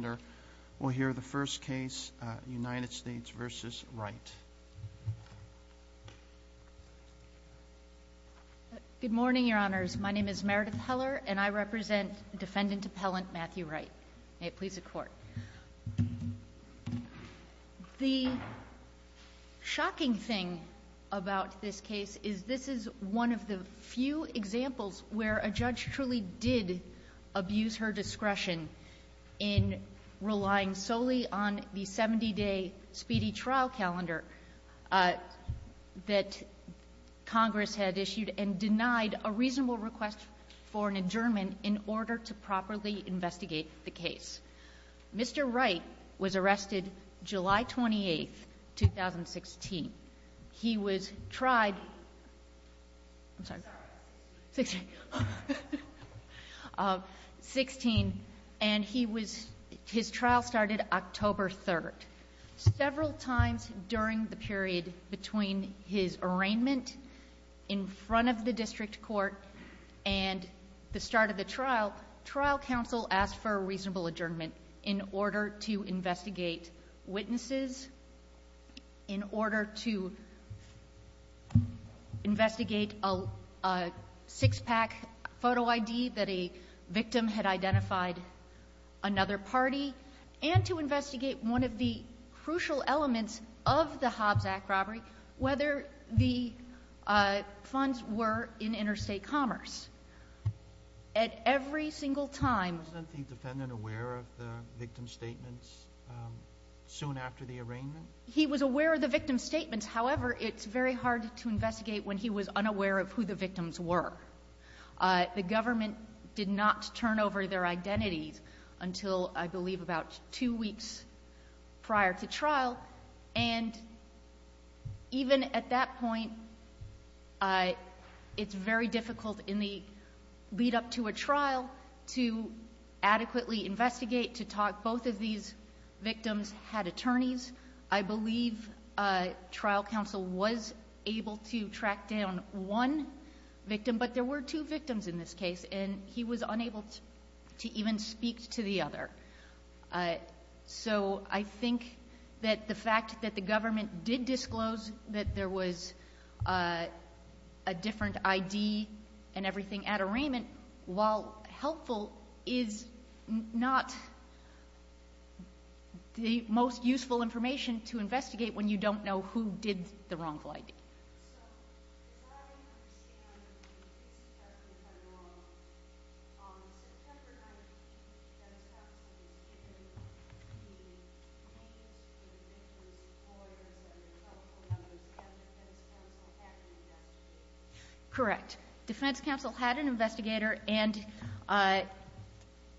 Good morning, Your Honors. My name is Meredith Heller, and I represent Defendant Appellant Matthew Wright. May it please the Court. The shocking thing about this case is this is one of the few examples where a judge truly did abuse her discretion in relying solely on the 70-day speedy trial calendar that Congress had issued and denied a reasonable request for an adjournment in order to properly investigate the case. Mr. Wright was arrested July 28th, 2016. He was tried, I'm sorry, 16, and he was, his trial started October 3rd. Several times during the period between his arraignment in front of the district court and the start of the trial, trial counsel asked for a reasonable adjournment in order to investigate witnesses, in order to investigate a six-pack photo ID that a victim had identified another party, and to investigate one of the crucial elements of the Hobbs Act robbery, whether the funds were in interstate commerce. Was the defendant aware of the victim's statements soon after the arraignment? He was aware of the victim's statements. However, it's very hard to investigate when he was unaware of who the victims were. The government did not turn over their identities until, I believe, about two weeks prior to trial, and even at that point, it's very difficult in the lead-up to a trial to adequately investigate, to talk. But there were two victims in this case, and he was unable to even speak to the other. So I think that the fact that the government did disclose that there was a different ID and everything at arraignment, while helpful, is not the most useful information to investigate when you don't know who did the wrongful ID. So, as far as I understand, if I'm not wrong, on September 19th, the defense counsel was given the names of the victims' lawyers and their telephone numbers, and the defense counsel had an investigator. And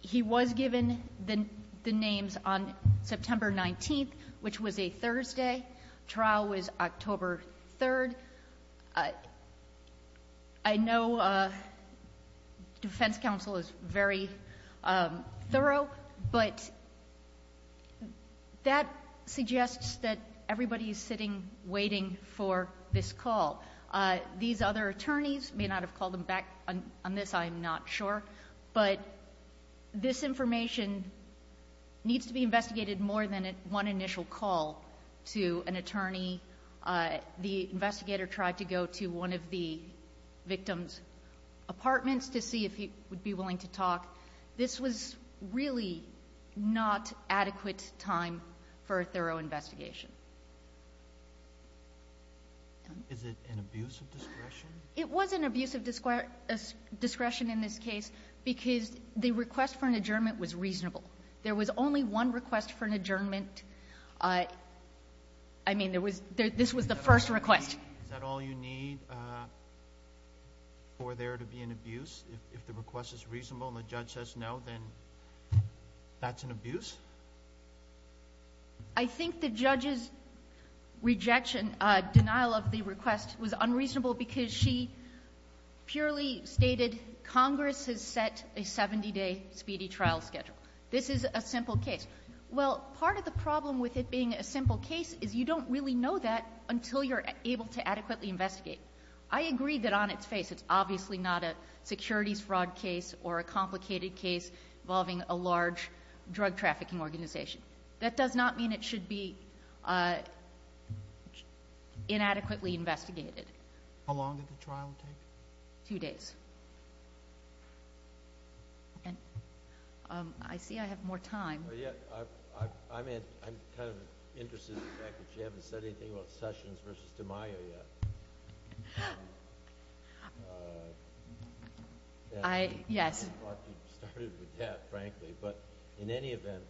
he was given the names on September 19th, which was a Thursday. Trial was October 3rd. I know defense counsel is very thorough, but that suggests that everybody is sitting waiting for this call. These other attorneys may not have called them back on this, I'm not sure, but this information needs to be investigated more than one initial call to an attorney. The investigator tried to go to one of the victims' apartments to see if he would be willing to talk. This was really not adequate time for a thorough investigation. Is it an abuse of discretion? It was an abuse of discretion in this case because the request for an adjournment was reasonable. There was only one request for an adjournment. I mean, this was the first request. Is that all you need for there to be an abuse? If the request is reasonable and the judge says no, then that's an abuse? I think the judge's rejection, denial of the request was unreasonable because she purely stated Congress has set a 70-day speedy trial schedule. This is a simple case. Well, part of the problem with it being a simple case is you don't really know that until you're able to adequately investigate. I agree that on its face it's obviously not a securities fraud case or a complicated case involving a large drug trafficking organization. That does not mean it should be inadequately investigated. How long did the trial take? Two days. I see I have more time. I'm kind of interested in the fact that you haven't said anything about Sessions v. DiMaio yet. Yes. You started with that, frankly, but in any event,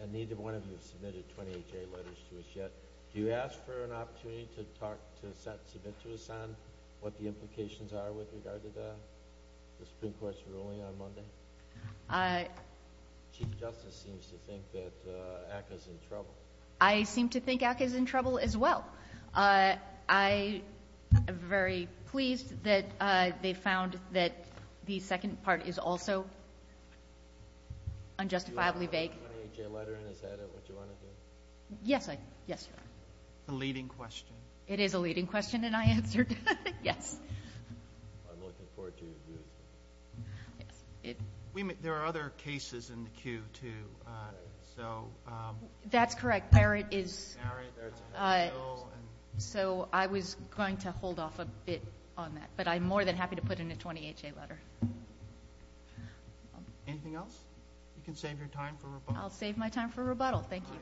and neither one of you has submitted 28 J letters to us yet, do you ask for an opportunity to submit to us on what the implications are with regard to that, the Supreme Court's ruling on Monday? Chief Justice seems to think that ACCA's in trouble. I seem to think ACCA's in trouble as well. I am very pleased that they found that the second part is also unjustifiably vague. Do you have a 28-J letter in? Is that what you want to do? Yes, I do. Yes, Your Honor. It's a leading question. It is a leading question, and I answered it. Yes. I'm looking forward to it. There are other cases in the queue, too, so. That's correct. Barrett is. So I was going to hold off a bit on that, but I'm more than happy to put in a 28-J letter. Anything else? You can save your time for rebuttal. I'll save my time for rebuttal. Thank you.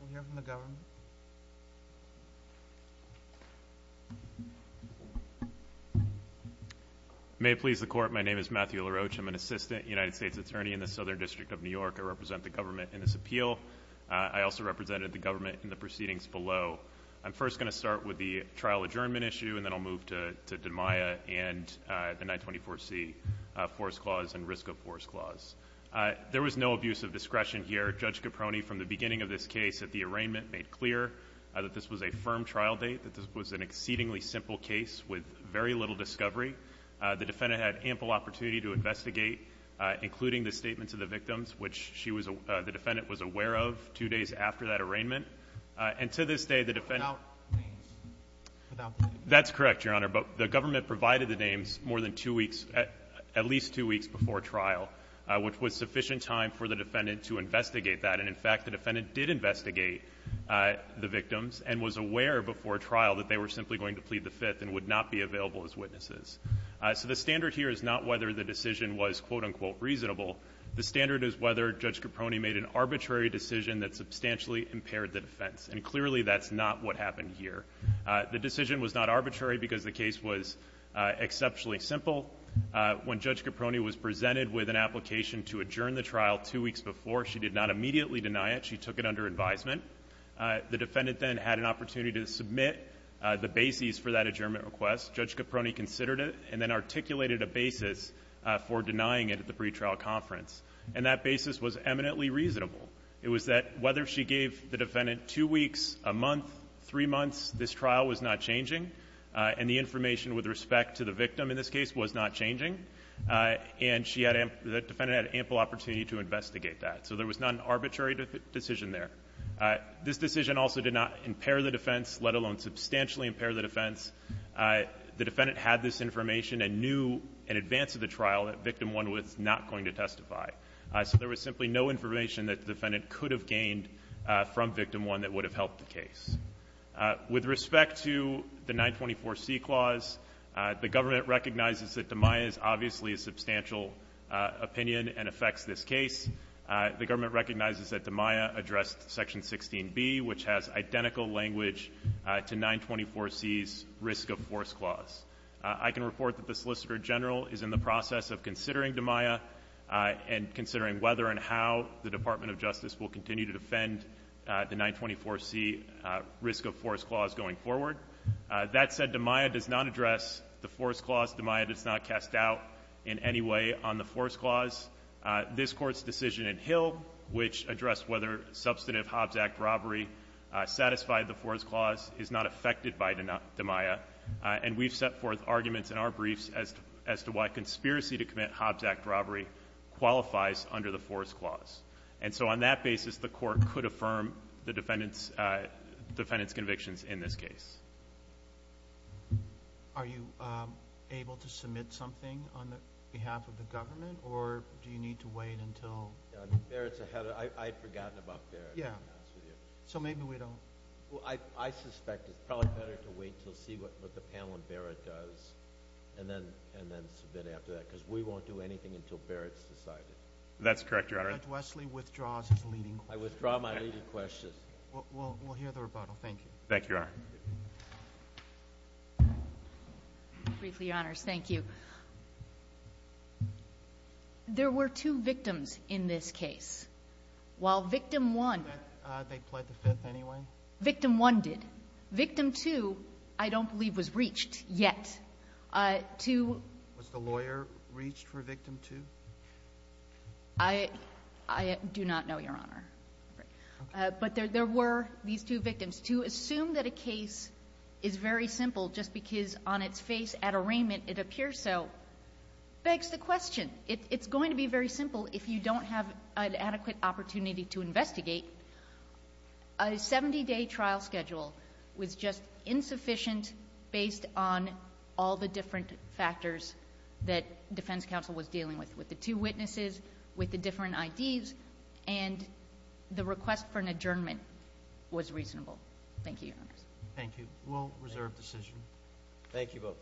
We'll hear from the government. May it please the Court, my name is Matthew LaRoche. I'm an assistant United States attorney in the Southern District of New York. I represent the government in this appeal. I also represented the government in the proceedings below. I'm first going to start with the trial adjournment issue, and then I'll move to DMIA and the 924C force clause and risk of force clause. There was no abuse of discretion here. Judge Caproni, from the beginning of this case at the arraignment, made clear that this was a firm trial date, that this was an exceedingly simple case with very little discovery. The defendant had ample opportunity to investigate, including the statements of the victims, which the defendant was aware of two days after that arraignment. And to this day, the defendant — Without names. Without names. That's correct, Your Honor, but the government provided the names at least two weeks before trial, which was sufficient time for the defendant to investigate that. And, in fact, the defendant did investigate the victims and was aware before trial that they were simply going to plead the Fifth and would not be available as witnesses. So the standard here is not whether the decision was, quote, unquote, reasonable. The standard is whether Judge Caproni made an arbitrary decision that substantially impaired the defense, and clearly that's not what happened here. The decision was not arbitrary because the case was exceptionally simple. When Judge Caproni was presented with an application to adjourn the trial two weeks before, she did not immediately deny it. She took it under advisement. The defendant then had an opportunity to submit the bases for that adjournment request. Judge Caproni considered it and then articulated a basis for denying it at the pretrial conference, and that basis was eminently reasonable. It was that whether she gave the defendant two weeks, a month, three months, this trial was not changing, and the information with respect to the victim in this case was not changing, and the defendant had ample opportunity to investigate that. So there was not an arbitrary decision there. This decision also did not impair the defense, let alone substantially impair the defense. The defendant had this information and knew in advance of the trial that Victim 1 was not going to testify. So there was simply no information that the defendant could have gained from Victim 1 that would have helped the case. With respect to the 924C clause, the government recognizes that DiMaia is obviously a substantial opinion and affects this case. The government recognizes that DiMaia addressed Section 16B, which has identical language to 924C's risk of force clause. I can report that the Solicitor General is in the process of considering DiMaia and considering whether and how the Department of Justice will continue to defend the 924C risk of force clause going forward. That said, DiMaia does not address the force clause. DiMaia does not cast doubt in any way on the force clause. This Court's decision in Hill, which addressed whether substantive Hobbs Act robbery satisfied the force clause, is not affected by DiMaia, and we've set forth arguments in our briefs as to why conspiracy to commit Hobbs Act robbery qualifies under the force clause. And so on that basis, the Court could affirm the defendant's convictions in this case. Are you able to submit something on behalf of the government, or do you need to wait until the merits are headed? I'd forgotten about the merits. So maybe we don't. Well, I suspect it's probably better to wait to see what the panel in Barrett does and then submit after that, because we won't do anything until Barrett's decided. That's correct, Your Honor. Judge Wesley withdraws his leading question. I withdraw my leading question. We'll hear the rebuttal. Thank you. Thank you, Your Honor. Briefly, Your Honors, thank you. There were two victims in this case. They pled the fifth anyway? Victim one did. Victim two I don't believe was reached yet. Was the lawyer reached for victim two? I do not know, Your Honor. But there were these two victims. To assume that a case is very simple just because on its face at arraignment it appears so begs the question. It's going to be very simple if you don't have an adequate opportunity to investigate. A 70-day trial schedule was just insufficient based on all the different factors that defense counsel was dealing with, with the two witnesses, with the different IDs, and the request for an adjournment was reasonable. Thank you, Your Honors. Thank you. We'll reserve decision. Thank you both.